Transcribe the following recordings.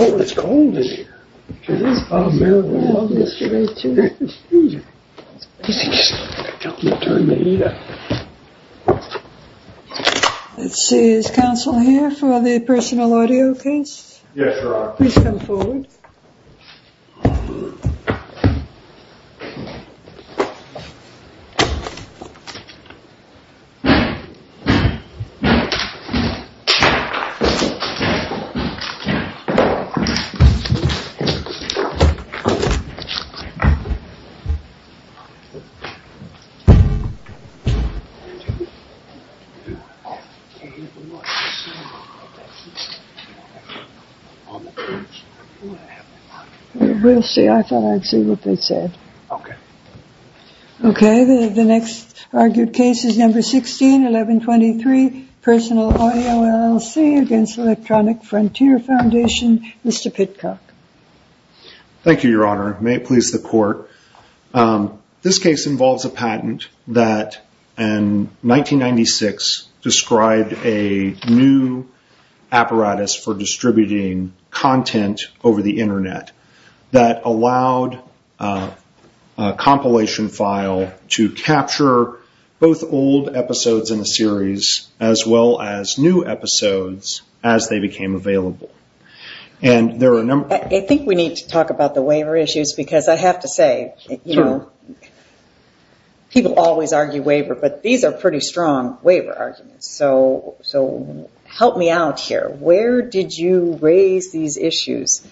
Oh, it's cold in here. It is, I'm wearing warm yesterday too. It's freezing, just don't turn the heat up. Let's see, is counsel here for the personal audio case? Yes, Your Honor. Please come forward. We'll see, I thought I'd see what they said. Okay. Okay, the next argued case is number 16, 1123, Personal Audio, LLC against Electronic Frontier Foundation. Mr. Pitcock. Thank you, Your Honor. May it please the court. This case involves a patent that in 1996 described a new apparatus for distributing content over the Internet that allowed a compilation file to capture both old episodes in the series as well as new episodes as they became available. I think we need to talk about the waiver issues because I have to say, people always argue waiver, but these are pretty strong waiver arguments. So help me out here. Where did you raise these issues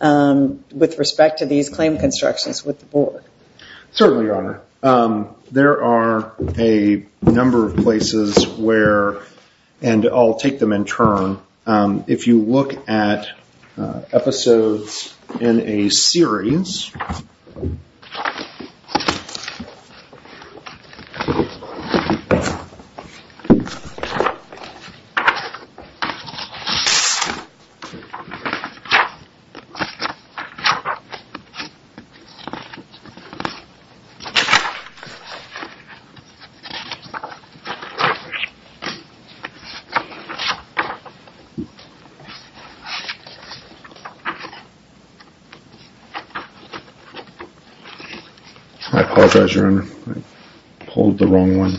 with respect to these claim constructions with the board? Certainly, Your Honor. There are a number of places where, and I'll take them in turn, if you look at episodes in a series. I apologize, Your Honor. I pulled the wrong one.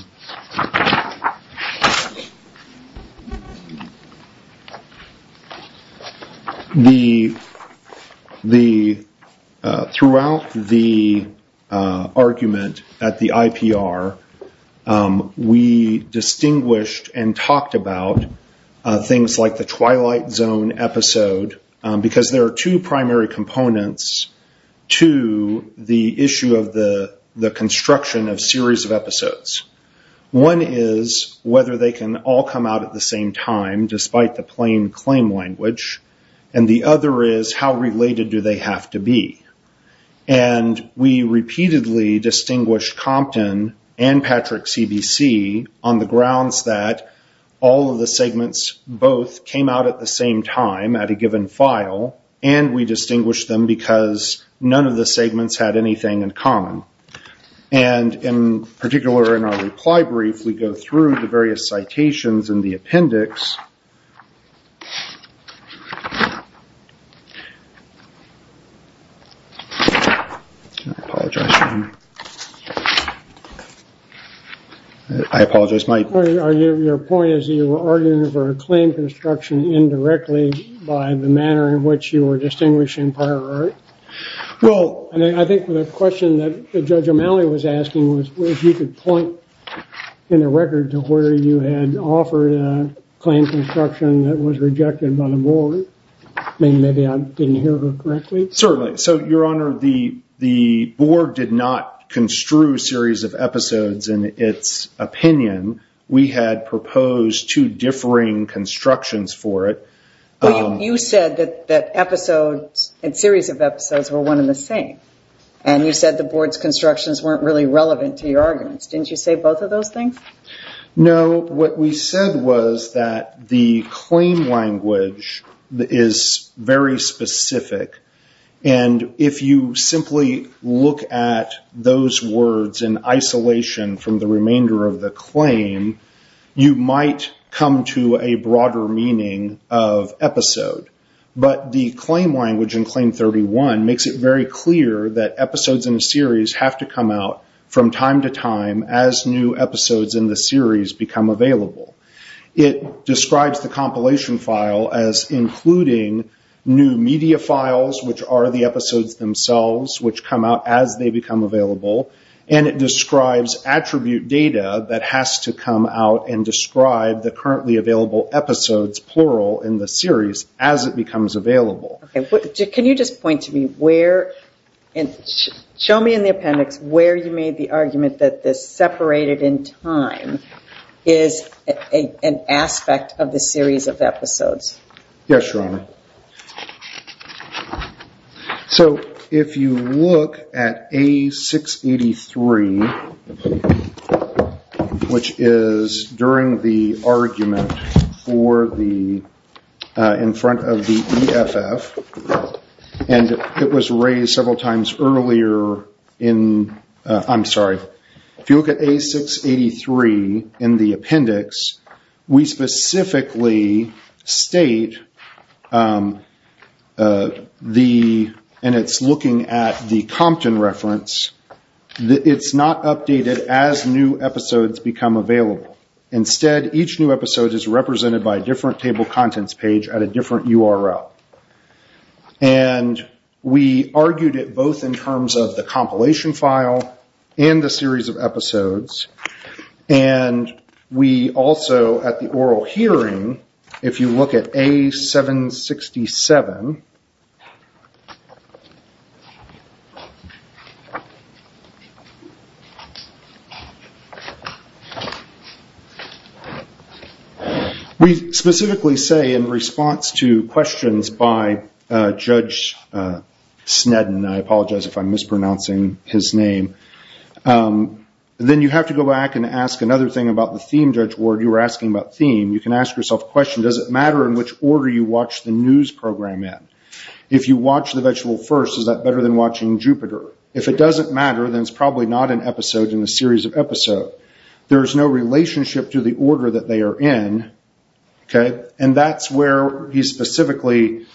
Throughout the argument at the IPR, we distinguished and talked about things like the Twilight Zone episode because there are two primary components to the issue of the construction of series of episodes. One is whether they can all come out at the same time despite the plain claim language, and the other is how related do they have to be. We repeatedly distinguished Compton and Patrick CBC on the grounds that all of the segments both came out at the same time at a given file, and we distinguished them because none of the segments had anything in common. In particular, in our reply brief, we go through the various citations in the appendix. Your point is that you were arguing for a claim construction indirectly by the manner in which you were distinguishing prior art? I think the question that Judge O'Malley was asking was if you could point in the record to where you had offered a claim construction that was rejected by the board. Maybe I didn't hear her correctly. Certainly. Your Honor, the board did not construe series of episodes in its opinion. We had proposed two differing constructions for it. You said that episodes and series of episodes were one and the same, and you said the board's constructions weren't really relevant to your arguments. Didn't you say both of those things? No. What we said was that the claim language is very specific, and if you simply look at those words in isolation from the remainder of the claim, you might come to a broader meaning of episode. But the claim language in Claim 31 makes it very clear that episodes in a series have to come out from time to time as new episodes in the series become available. It describes the compilation file as including new media files, which are the episodes themselves, which come out as they become available, and it describes attribute data that has to come out and describe the currently available episodes, plural, in the series as it becomes available. Can you just point to me where, show me in the appendix, where you made the argument that this separated in time is an aspect of the series of episodes. Yes, Your Honor. So if you look at A683, which is during the argument in front of the EFF, and it was raised several times earlier in, I'm sorry, if you look at A683 in the appendix, we specifically state, and it's looking at the Compton reference, that it's not updated as new episodes become available. Instead, each new episode is represented by a different table contents page at a different URL. And we argued it both in terms of the compilation file and the series of episodes, and we also at the oral hearing, if you look at A767, we specifically say in response to questions by Judge Sneddon, I apologize if I'm mispronouncing his name, then you have to go back and ask another thing about the theme, Judge Ward, you were asking about theme. You can ask yourself a question, does it matter in which order you watch the news program in? If you watch The Vegetable first, is that better than watching Jupiter? If it doesn't matter, then it's probably not an episode in the series of episodes. There's no relationship to the order that they are in, and that's where he's specifically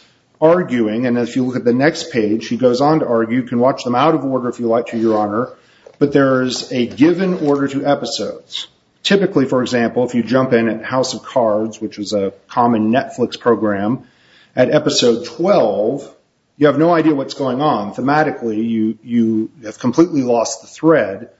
arguing, and if you look at the next page, he goes on to argue, you can watch them out of order if you like to, Your Honor, but there is a given order to episodes. Typically, for example, if you jump in at House of Cards, which is a common Netflix program, at episode 12, you have no idea what's going on. Thematically, you have completely lost the thread.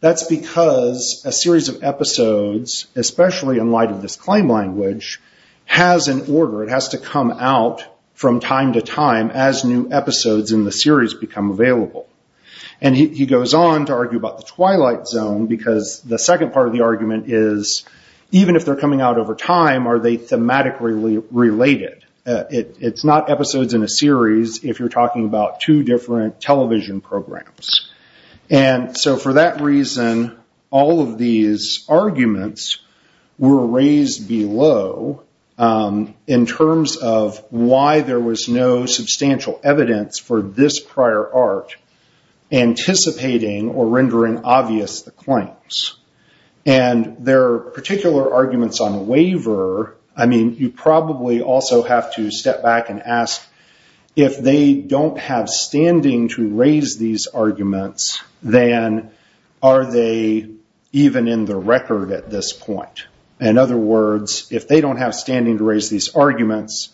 That's because a series of episodes, especially in light of this claim language, has an order. It has to come out from time to time as new episodes in the series become available. He goes on to argue about the Twilight Zone, because the second part of the argument is, even if they're coming out over time, are they thematically related? It's not episodes in a series if you're talking about two different television programs. For that reason, all of these arguments were raised below in terms of why there was no substantial evidence for this prior art anticipating or rendering obvious the claims. There are particular arguments on waiver. You probably also have to step back and ask, if they don't have standing to raise these arguments, then are they even in the record at this point? In other words, if they don't have standing to raise these arguments,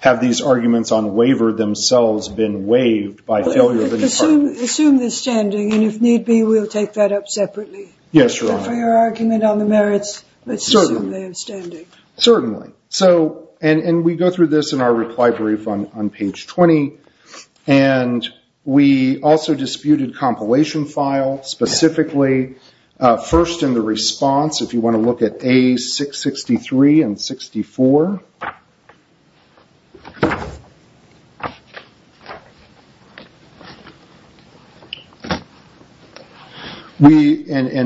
have these arguments on waiver themselves been waived by failure of the department? Assume the standing, and if need be, we'll take that up separately. Yes, Your Honor. For your argument on the merits, let's assume they have standing. Certainly. We go through this in our reply brief on page 20. We also disputed compilation files. Specifically, first in the response, if you want to look at A663 and 64.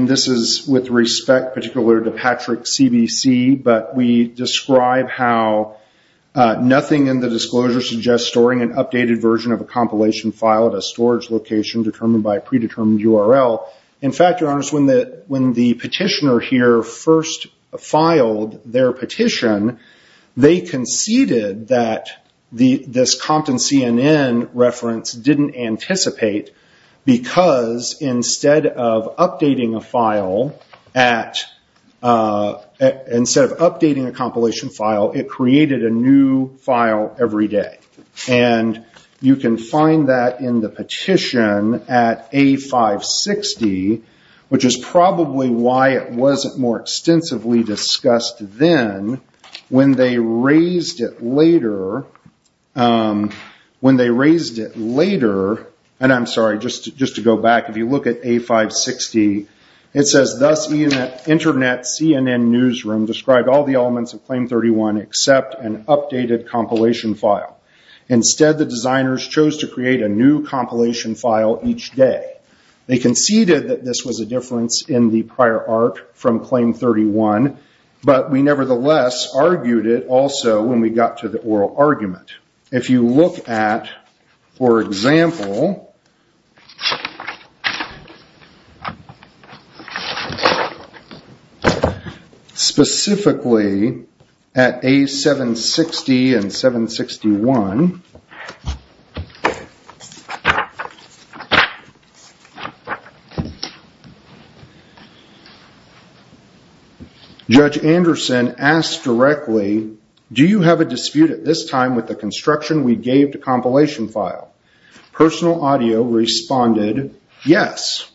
This is with respect, particularly to Patrick CBC, but we describe how nothing in the disclosure suggests storing an updated version of a compilation file at a storage location determined by a predetermined URL. In fact, Your Honors, when the petitioner here first filed their petition, they conceded that this Compton CNN reference didn't anticipate because instead of updating a compilation file, it created a new file every day. You can find that in the petition at A560, which is probably why it wasn't more extensively discussed then. When they raised it later, and I'm sorry, just to go back, if you look at A560, it says, thus Internet CNN newsroom described all the elements of Claim 31 except an updated compilation file. Instead, the designers chose to create a new compilation file each day. They conceded that this was a difference in the prior art from Claim 31, but we nevertheless argued it also when we got to the oral argument. If you look at, for example, specifically at A760 and 761, Judge Anderson asked directly, do you have a dispute at this time with the construction we gave to compilation file? Personal Audio responded, yes.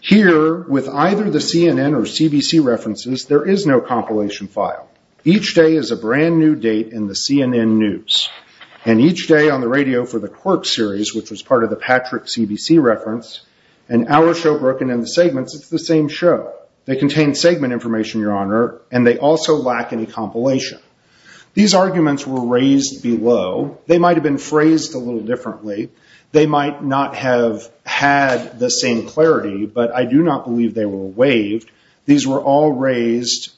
Here, with either the CNN or CBC references, there is no compilation file. Each day is a brand new date in the CNN news, and each day on the radio for the Quirk series, which was part of the Patrick CBC reference, and our show, Broken in the Segments, it's the same show. They contain segment information, Your Honor, and they also lack any compilation. These arguments were raised below. They might have been phrased a little differently. They might not have had the same clarity, but I do not believe they were waived. These were all raised,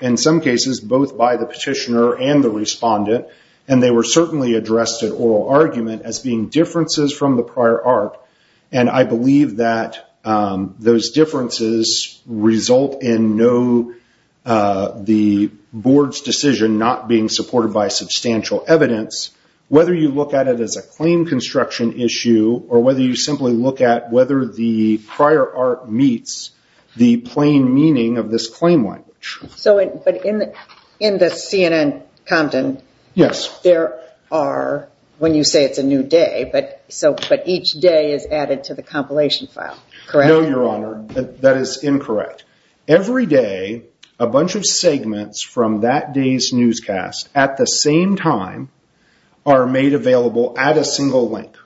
in some cases, both by the petitioner and the respondent, and they were certainly addressed at oral argument as being differences from the prior art, and I believe that those differences result in the board's decision not being supported by substantial evidence, whether you look at it as a claim construction issue or whether you simply look at whether the prior art meets the plain meaning of this claim language. In the CNN content, there are, when you say it's a new day, but each day is added to the compilation file, correct? No, Your Honor, that is incorrect. Every day, a bunch of segments from that day's newscast, at the same time, are made available at a single link.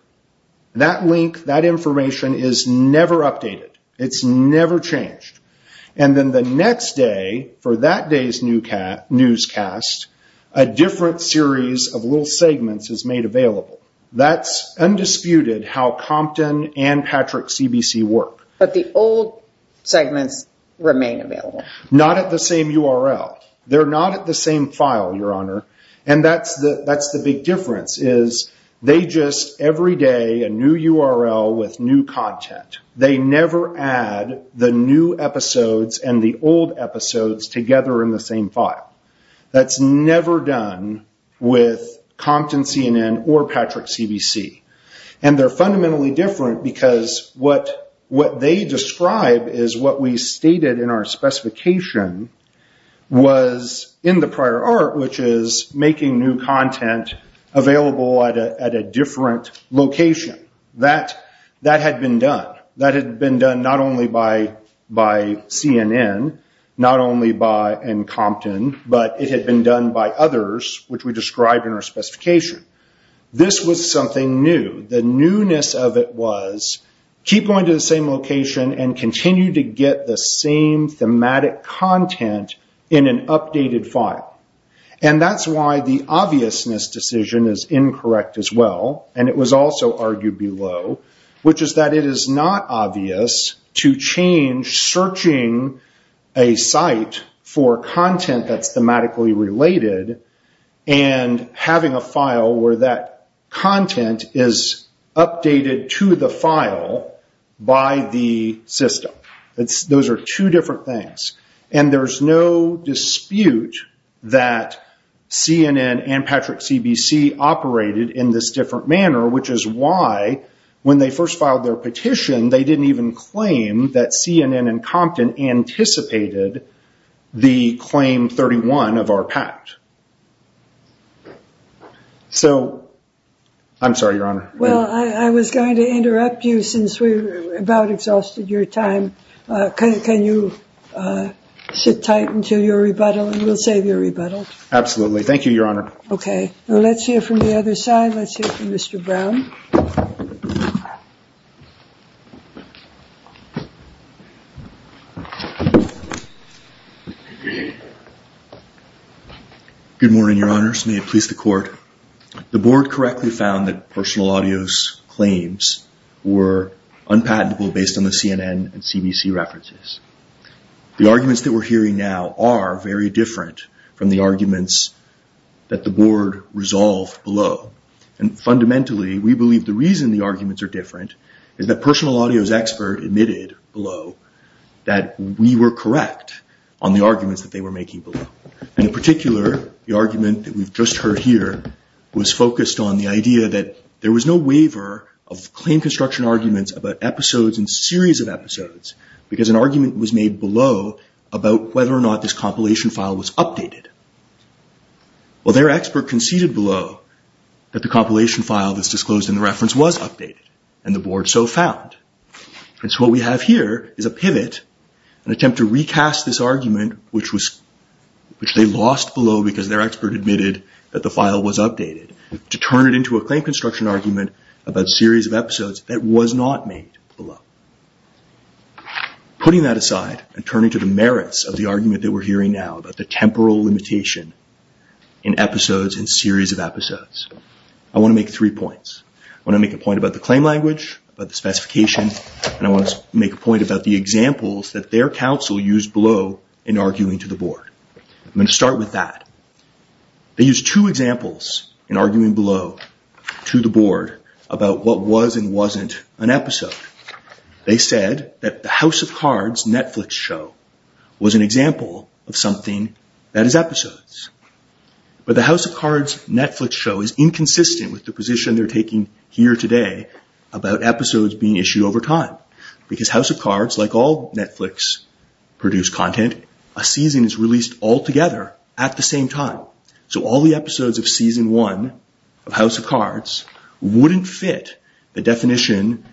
That link, that information, is never updated. It's never changed. And then the next day, for that day's newscast, a different series of little segments is made available. That's undisputed how Compton and Patrick CBC work. But the old segments remain available. Not at the same URL. They're not at the same file, Your Honor, and that's the big difference is they just, every day, a new URL with new content. They never add the new episodes and the old episodes together in the same file. That's never done with Compton CNN or Patrick CBC. And they're fundamentally different because what they describe is what we stated in our specification was in the prior art, which is making new content available at a different location. That had been done. Not only by CNN, not only by Compton, but it had been done by others, which we described in our specification. This was something new. The newness of it was keep going to the same location and continue to get the same thematic content in an updated file. And that's why the obviousness decision is incorrect as well, and it was also argued below, which is that it is not obvious to change searching a site for content that's thematically related and having a file where that content is updated to the file by the system. Those are two different things. And there's no dispute that CNN and Patrick CBC operated in this different manner, which is why when they first filed their petition, they didn't even claim that CNN and Compton anticipated the Claim 31 of our pact. I'm sorry, Your Honor. Well, I was going to interrupt you since we've about exhausted your time. Can you sit tight until your rebuttal, and we'll save your rebuttal. Absolutely. Thank you, Your Honor. Okay. Let's hear from the other side. Let's hear from Mr. Brown. Good morning, Your Honors. May it please the Court. The Board correctly found that personal audio's claims were unpatentable based on the CNN and CBC references. The arguments that we're hearing now are very different from the arguments that the Board resolved below. And fundamentally, we believe the reason the arguments are different is that personal audio's expert admitted below that we were correct on the arguments that they were making below. And in particular, the argument that we've just heard here was focused on the idea that there was no waiver of claim construction arguments about episodes and series of episodes because an argument was made below about whether or not this compilation file was updated. Well, their expert conceded below that the compilation file that's disclosed in the reference was updated, and the Board so found. And so what we have here is a pivot, an attempt to recast this argument, which they lost below because their expert admitted that the file was updated, to turn it into a claim construction argument about series of episodes that was not made below. Putting that aside and turning to the merits of the argument that we're hearing now about the temporal limitation in episodes and series of episodes, I want to make three points. I want to make a point about the claim language, about the specification, and I want to make a point about the examples that their counsel used below in arguing to the Board. I'm going to start with that. They used two examples in arguing below to the Board about what was and wasn't an episode. They said that the House of Cards Netflix show was an example of something that is episodes. But the House of Cards Netflix show is inconsistent with the position they're taking here today about episodes being issued over time, because House of Cards, like all Netflix-produced content, a season is released all together at the same time. So all the episodes of season one of House of Cards wouldn't fit the definition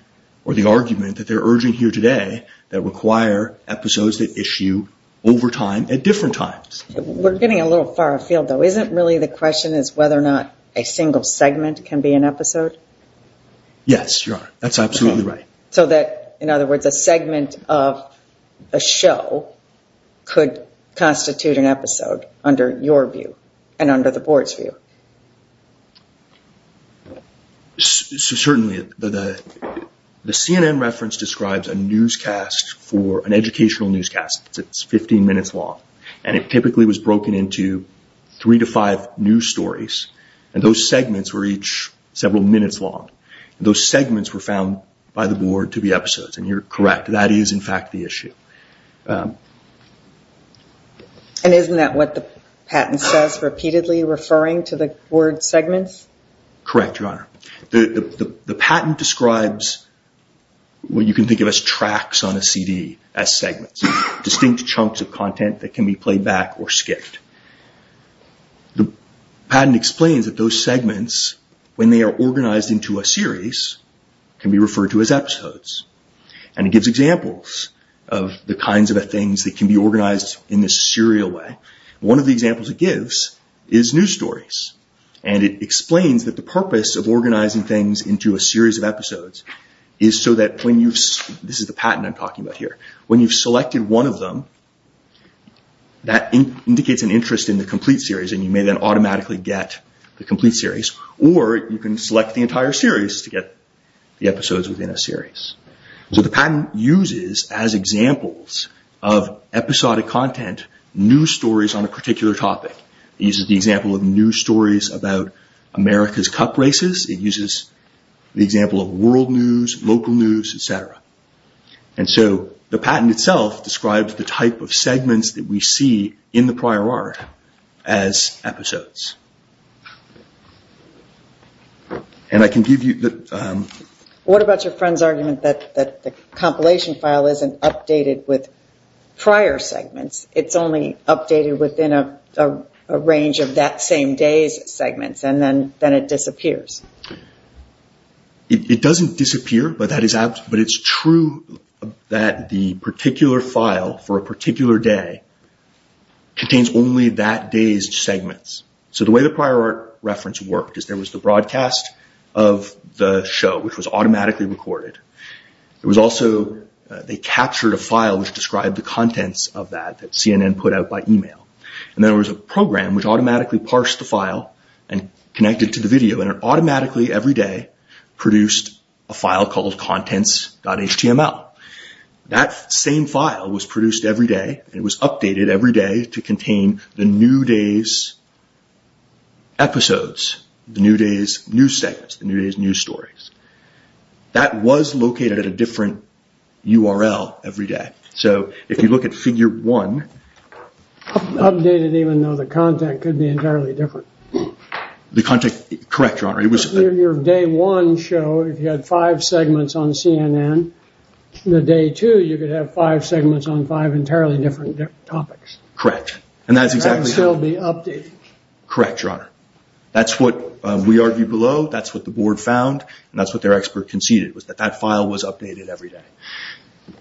or the argument that they're urging here today that require episodes that issue over time at different times. We're getting a little far afield, though. Isn't really the question is whether or not a single segment can be an episode? Yes, Your Honor. That's absolutely right. So that, in other words, a segment of a show could constitute an episode under your view and under the Board's view? Certainly. The CNN reference describes an educational newscast that's 15 minutes long, and it typically was broken into three to five news stories, and those segments were each several minutes long. Those segments were found by the Board to be episodes, and you're correct. That is, in fact, the issue. And isn't that what the patent says, repeatedly referring to the word segments? Correct, Your Honor. The patent describes what you can think of as tracks on a CD as segments, distinct chunks of content that can be played back or skipped. The patent explains that those segments, when they are organized into a series, can be referred to as episodes. And it gives examples of the kinds of things that can be organized in this serial way. One of the examples it gives is news stories, and it explains that the purpose of organizing things into a series of episodes is so that when you've This is the patent I'm talking about here. When you've selected one of them, that indicates an interest in the complete series, and you may then automatically get the complete series. Or you can select the entire series to get the episodes within a series. So the patent uses, as examples of episodic content, news stories on a particular topic. It uses the example of news stories about America's cup races. It uses the example of world news, local news, et cetera. And so the patent itself describes the type of segments that we see in the prior art as episodes. And I can give you the... What about your friend's argument that the compilation file isn't updated with prior segments? It's only updated within a range of that same day's segments, and then it disappears. It doesn't disappear, but it's true that the particular file for a particular day contains only that day's segments. So the way the prior art reference worked is there was the broadcast of the show, which was automatically recorded. There was also... They captured a file which described the contents of that that CNN put out by email. And then there was a program which automatically parsed the file and connected it to the video, and it automatically, every day, produced a file called contents.html. That same file was produced every day, and it was updated every day to contain the new day's episodes, the new day's news segments, the new day's news stories. That was located at a different URL every day. So if you look at figure one... Updated even though the content could be entirely different. The content... Correct, Your Honor. Your day one show, if you had five segments on CNN, the day two, you could have five segments on five entirely different topics. Correct. And that's exactly how... That would still be updated. Correct, Your Honor. That's what we argued below. That's what the board found, and that's what their expert conceded, was that that file was updated every day.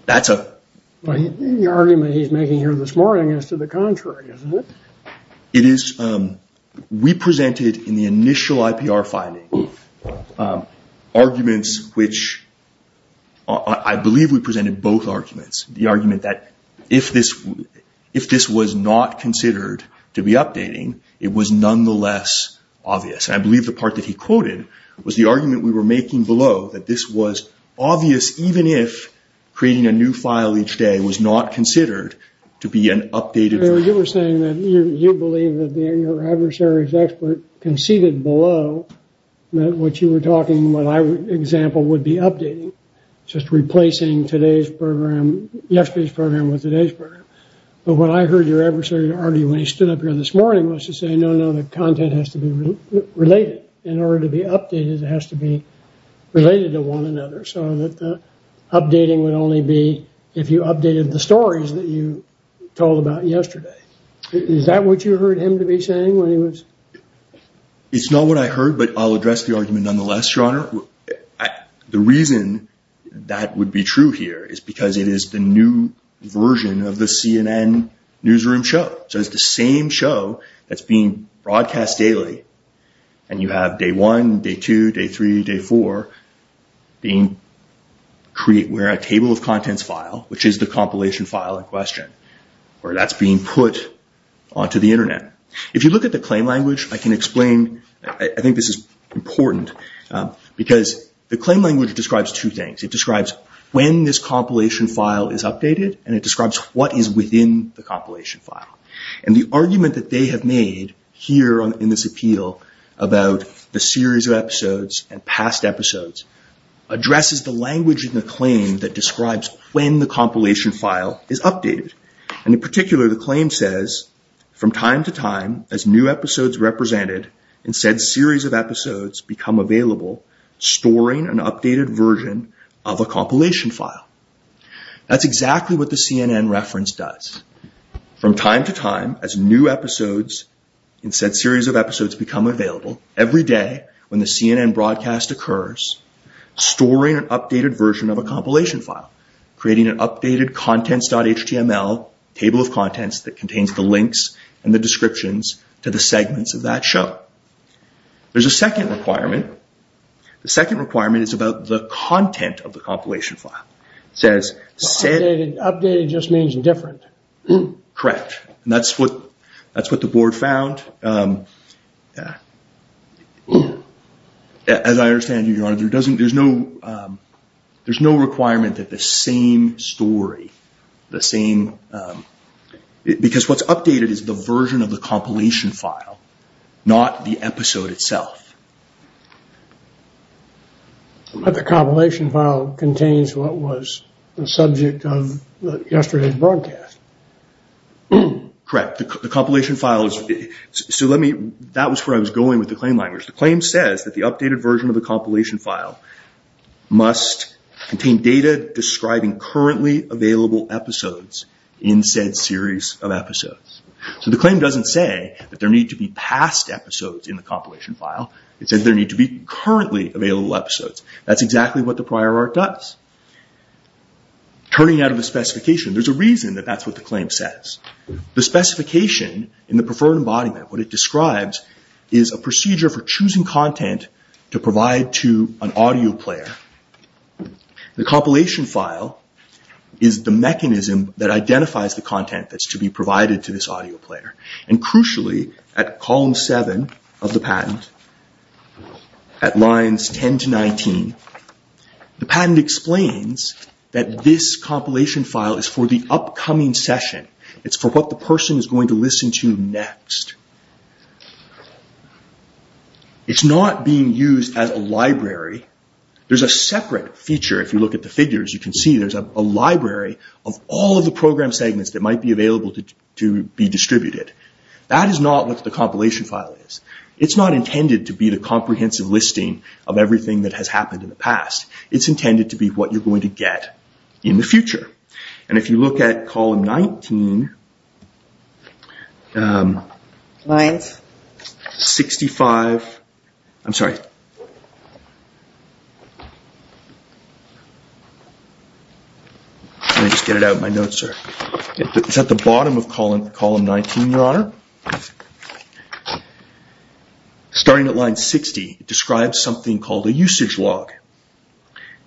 That's a... The argument he's making here this morning is to the contrary, isn't it? It is. We presented in the initial IPR finding arguments which... I believe we presented both arguments. The argument that if this was not considered to be updating, it was nonetheless obvious. I believe the part that he quoted was the argument we were making below, that this was obvious even if creating a new file each day was not considered to be an updated... You were saying that you believe that your adversary's expert conceded below that what you were talking, what I would example, would be updating, just replacing yesterday's program with today's program. But what I heard your adversary argue when he stood up here this morning was to say, no, no, the content has to be related. In order to be updated, it has to be related to one another, so that the updating would only be if you updated the stories that you told about yesterday. Is that what you heard him to be saying when he was... The reason that would be true here is because it is the new version of the CNN newsroom show. It's the same show that's being broadcast daily, and you have day one, day two, day three, day four, being created where a table of contents file, which is the compilation file in question, where that's being put onto the Internet. If you look at the claim language, I can explain. I think this is important. Because the claim language describes two things. It describes when this compilation file is updated, and it describes what is within the compilation file. And the argument that they have made here in this appeal about the series of episodes and past episodes addresses the language in the claim that describes when the compilation file is updated. And in particular, the claim says, from time to time, as new episodes are represented, and said series of episodes become available, storing an updated version of a compilation file. That's exactly what the CNN reference does. From time to time, as new episodes and said series of episodes become available, every day when the CNN broadcast occurs, storing an updated version of a compilation file, creating an updated contents.html table of contents that contains the links and the descriptions to the segments of that show. There's a second requirement. The second requirement is about the content of the compilation file. Updated just means different. Correct. And that's what the board found. As I understand it, there's no requirement that the same story, the same... Because what's updated is the version of the compilation file, not the episode itself. But the compilation file contains what was the subject of yesterday's broadcast. Correct. The compilation file is... That was where I was going with the claim language. The claim says that the updated version of the compilation file must contain data describing currently available episodes in said series of episodes. So the claim doesn't say that there need to be past episodes in the compilation file. It says there need to be currently available episodes. That's exactly what the prior art does. Turning out of the specification, there's a reason that that's what the claim says. The specification in the preferred embodiment, what it describes, is a procedure for choosing content to provide to an audio player. The compilation file is the mechanism that identifies the content that's to be provided to this audio player. Crucially, at column 7 of the patent, at lines 10 to 19, the patent explains that this compilation file is for the upcoming session. It's for what the person is going to listen to next. It's not being used as a library. There's a separate feature, if you look at the figures, you can see there's a library of all of the program segments that might be available to be distributed. That is not what the compilation file is. It's not intended to be the comprehensive listing of everything that has happened in the past. It's intended to be what you're going to get in the future. And if you look at column 19... 65... I'm sorry. Let me just get it out of my notes here. It's at the bottom of column 19, Your Honour. Starting at line 60, it describes something called a usage log.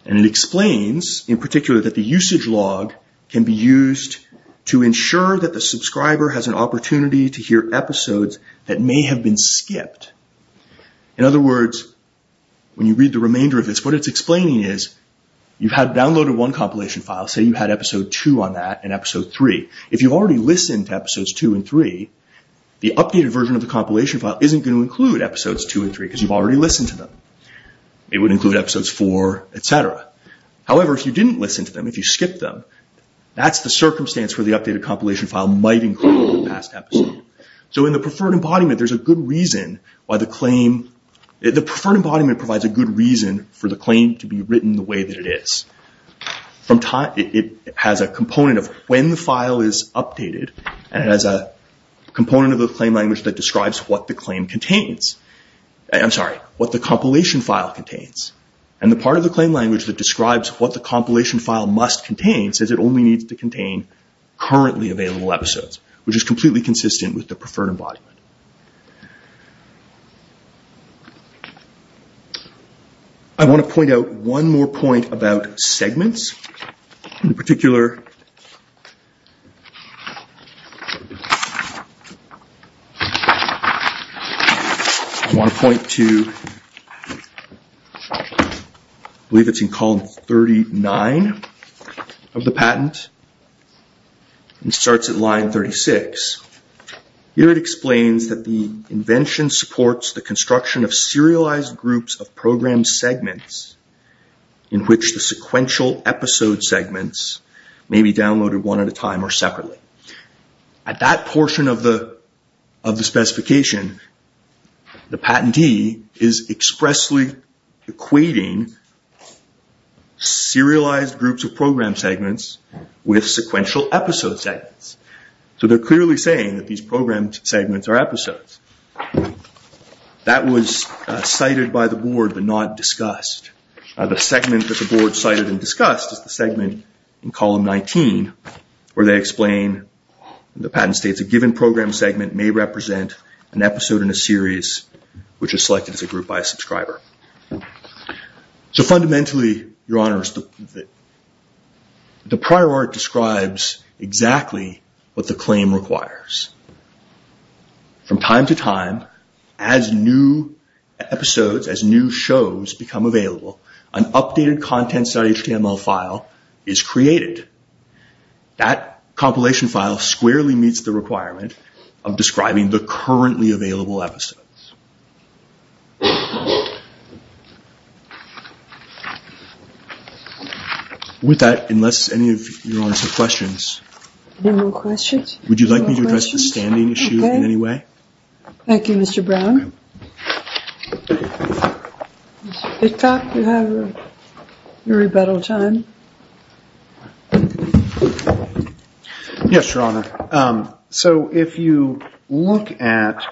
And it explains, in particular, that the usage log can be used to ensure that the subscriber has an opportunity to hear episodes that may have been skipped. In other words, when you read the remainder of this, what it's explaining is, you've downloaded one compilation file, say you had episode 2 on that and episode 3. If you've already listened to episodes 2 and 3, the updated version of the compilation file isn't going to include episodes 2 and 3 because you've already listened to them. It would include episodes 4, etc. However, if you didn't listen to them, if you skipped them, that's the circumstance where the updated compilation file might include the past episode. So in the preferred embodiment, there's a good reason why the claim... to be written the way that it is. It has a component of when the file is updated, and it has a component of the claim language that describes what the claim contains. I'm sorry, what the compilation file contains. And the part of the claim language that describes what the compilation file must contain says it only needs to contain currently available episodes, which is completely consistent with the preferred embodiment. I want to point out one more point about segments. In particular... I want to point to... I believe it's in column 39 of the patent. It starts at line 36. Here it explains that the invention supports the construction of serialized groups of program segments in which the sequential episode segments may be downloaded one at a time or separately. At that portion of the specification, the patentee is expressly equating serialized groups of program segments with sequential episode segments. They're clearly saying that these program segments are episodes. That was cited by the board but not discussed. The segment that the board cited and discussed is the segment in column 19, where they explain, the patent states, a given program segment may represent an episode in a series which is selected as a group by a subscriber. Fundamentally, Your Honors, the prior art describes exactly what the claim requires. From time to time, as new episodes, as new shows become available, an updated contents.html file is created. That compilation file squarely meets the requirement of describing the currently available episodes. With that, unless any of Your Honors have questions. Any more questions? Would you like me to address the standing issue in any way? Thank you, Mr. Brown. Mr. Hitchcock, you have your rebuttal time. Yes, Your Honor. If you look at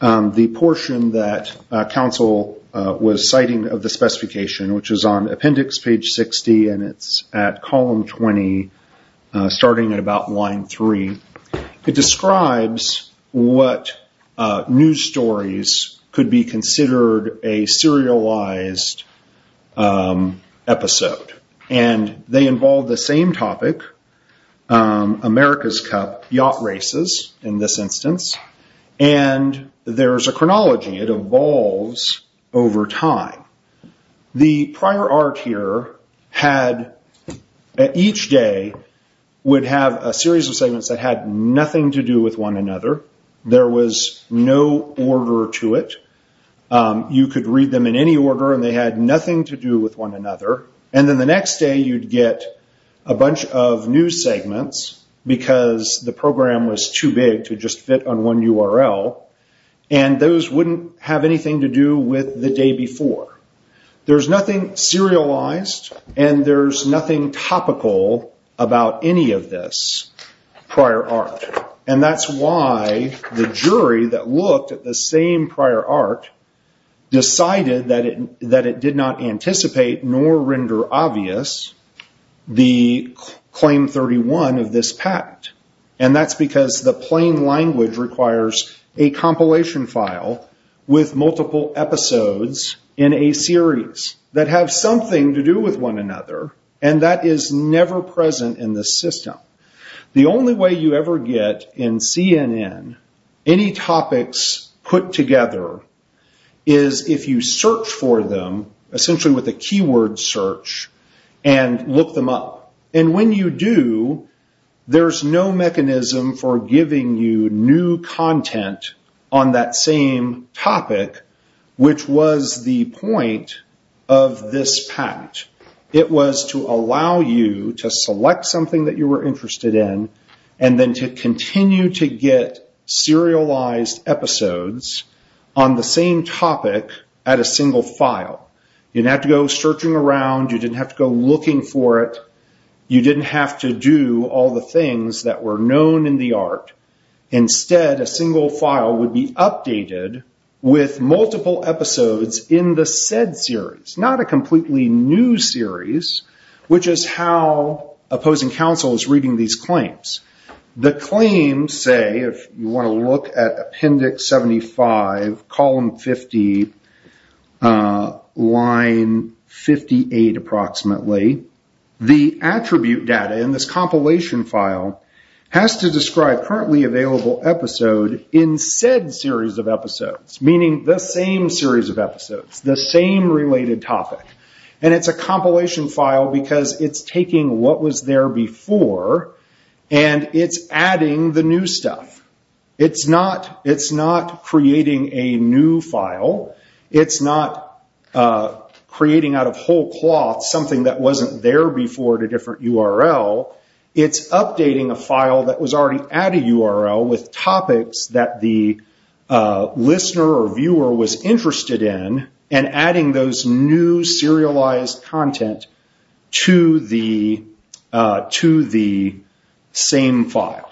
the portion that counsel was citing of the specification, which is on appendix page 60 and it's at column 20, starting at about line three. It describes what news stories could be considered a serialized episode. They involve the same topic, America's Cup Yacht Races, in this instance. There's a chronology. It evolves over time. The prior art here had, each day would have a series of segments that had nothing to do with one another. There was no order to it. You could read them in any order and they had nothing to do with one another. Then the next day, you'd get a bunch of new segments because the program was too big to just fit on one URL. Those wouldn't have anything to do with the day before. There's nothing serialized and there's nothing topical about any of this prior art. That's why the jury that looked at the same prior art decided that it did not anticipate nor render obvious the claim 31 of this patent. That's because the plain language requires a compilation file with multiple episodes in a series that have something to do with one another and that is never present in this system. The only way you ever get, in CNN, any topics put together is if you search for them, essentially with a keyword search, and look them up. When you do, there's no mechanism for giving you new content on that same topic, which was the point of this patent. It was to allow you to select something that you were interested in and then to continue to get serialized episodes on the same topic at a single file. You didn't have to go searching around. You didn't have to go looking for it. You didn't have to do all the things that were known in the art. Instead, a single file would be updated with multiple episodes in the said series, not a completely new series, which is how opposing counsel is reading these claims. The claim, say, if you want to look at Appendix 75, column 50, line 58, approximately, the attribute data in this compilation file has to describe currently available episode in said series of episodes, meaning the same series of episodes, the same related topic. It's a compilation file because it's taking what was there before and it's adding the new stuff. It's not creating a new file. It's not creating out of whole cloth something that wasn't there before at a different URL. It's updating a file that was already at a URL with topics that the listener or viewer was interested in and adding those new serialized content to the same file.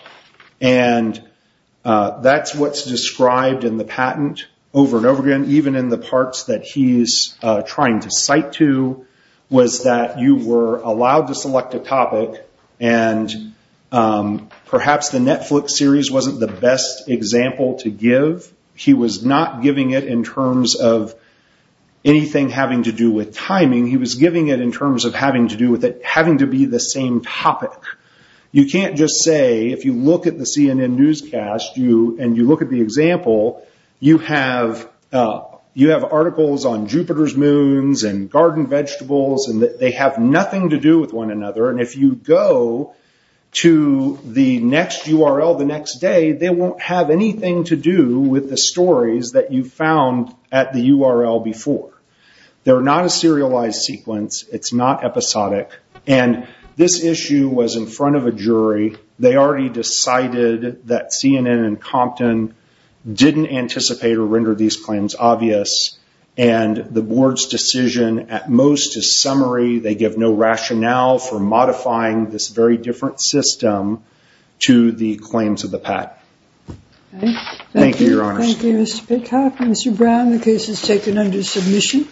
That's what's described in the patent over and over again, even in the parts that he's trying to cite to, was that you were allowed to select a topic and perhaps the Netflix series wasn't the best example to give. He was not giving it in terms of anything having to do with timing. He was giving it in terms of having to do with it having to be the same topic. You can't just say, if you look at the CNN newscast and you look at the example, you have articles on Jupiter's moons and garden vegetables and they have nothing to do with one another. If you go to the next URL the next day, they won't have anything to do with the stories that you found at the URL before. They're not a serialized sequence. It's not episodic. This issue was in front of a jury. They already decided that CNN and Compton didn't anticipate or render these claims obvious. The board's decision at most is summary. They give no rationale for modifying this very different system to the claims of the patent. Thank you, Your Honors. Thank you, Mr. Pitcock. Mr. Brown, the case is taken under submission.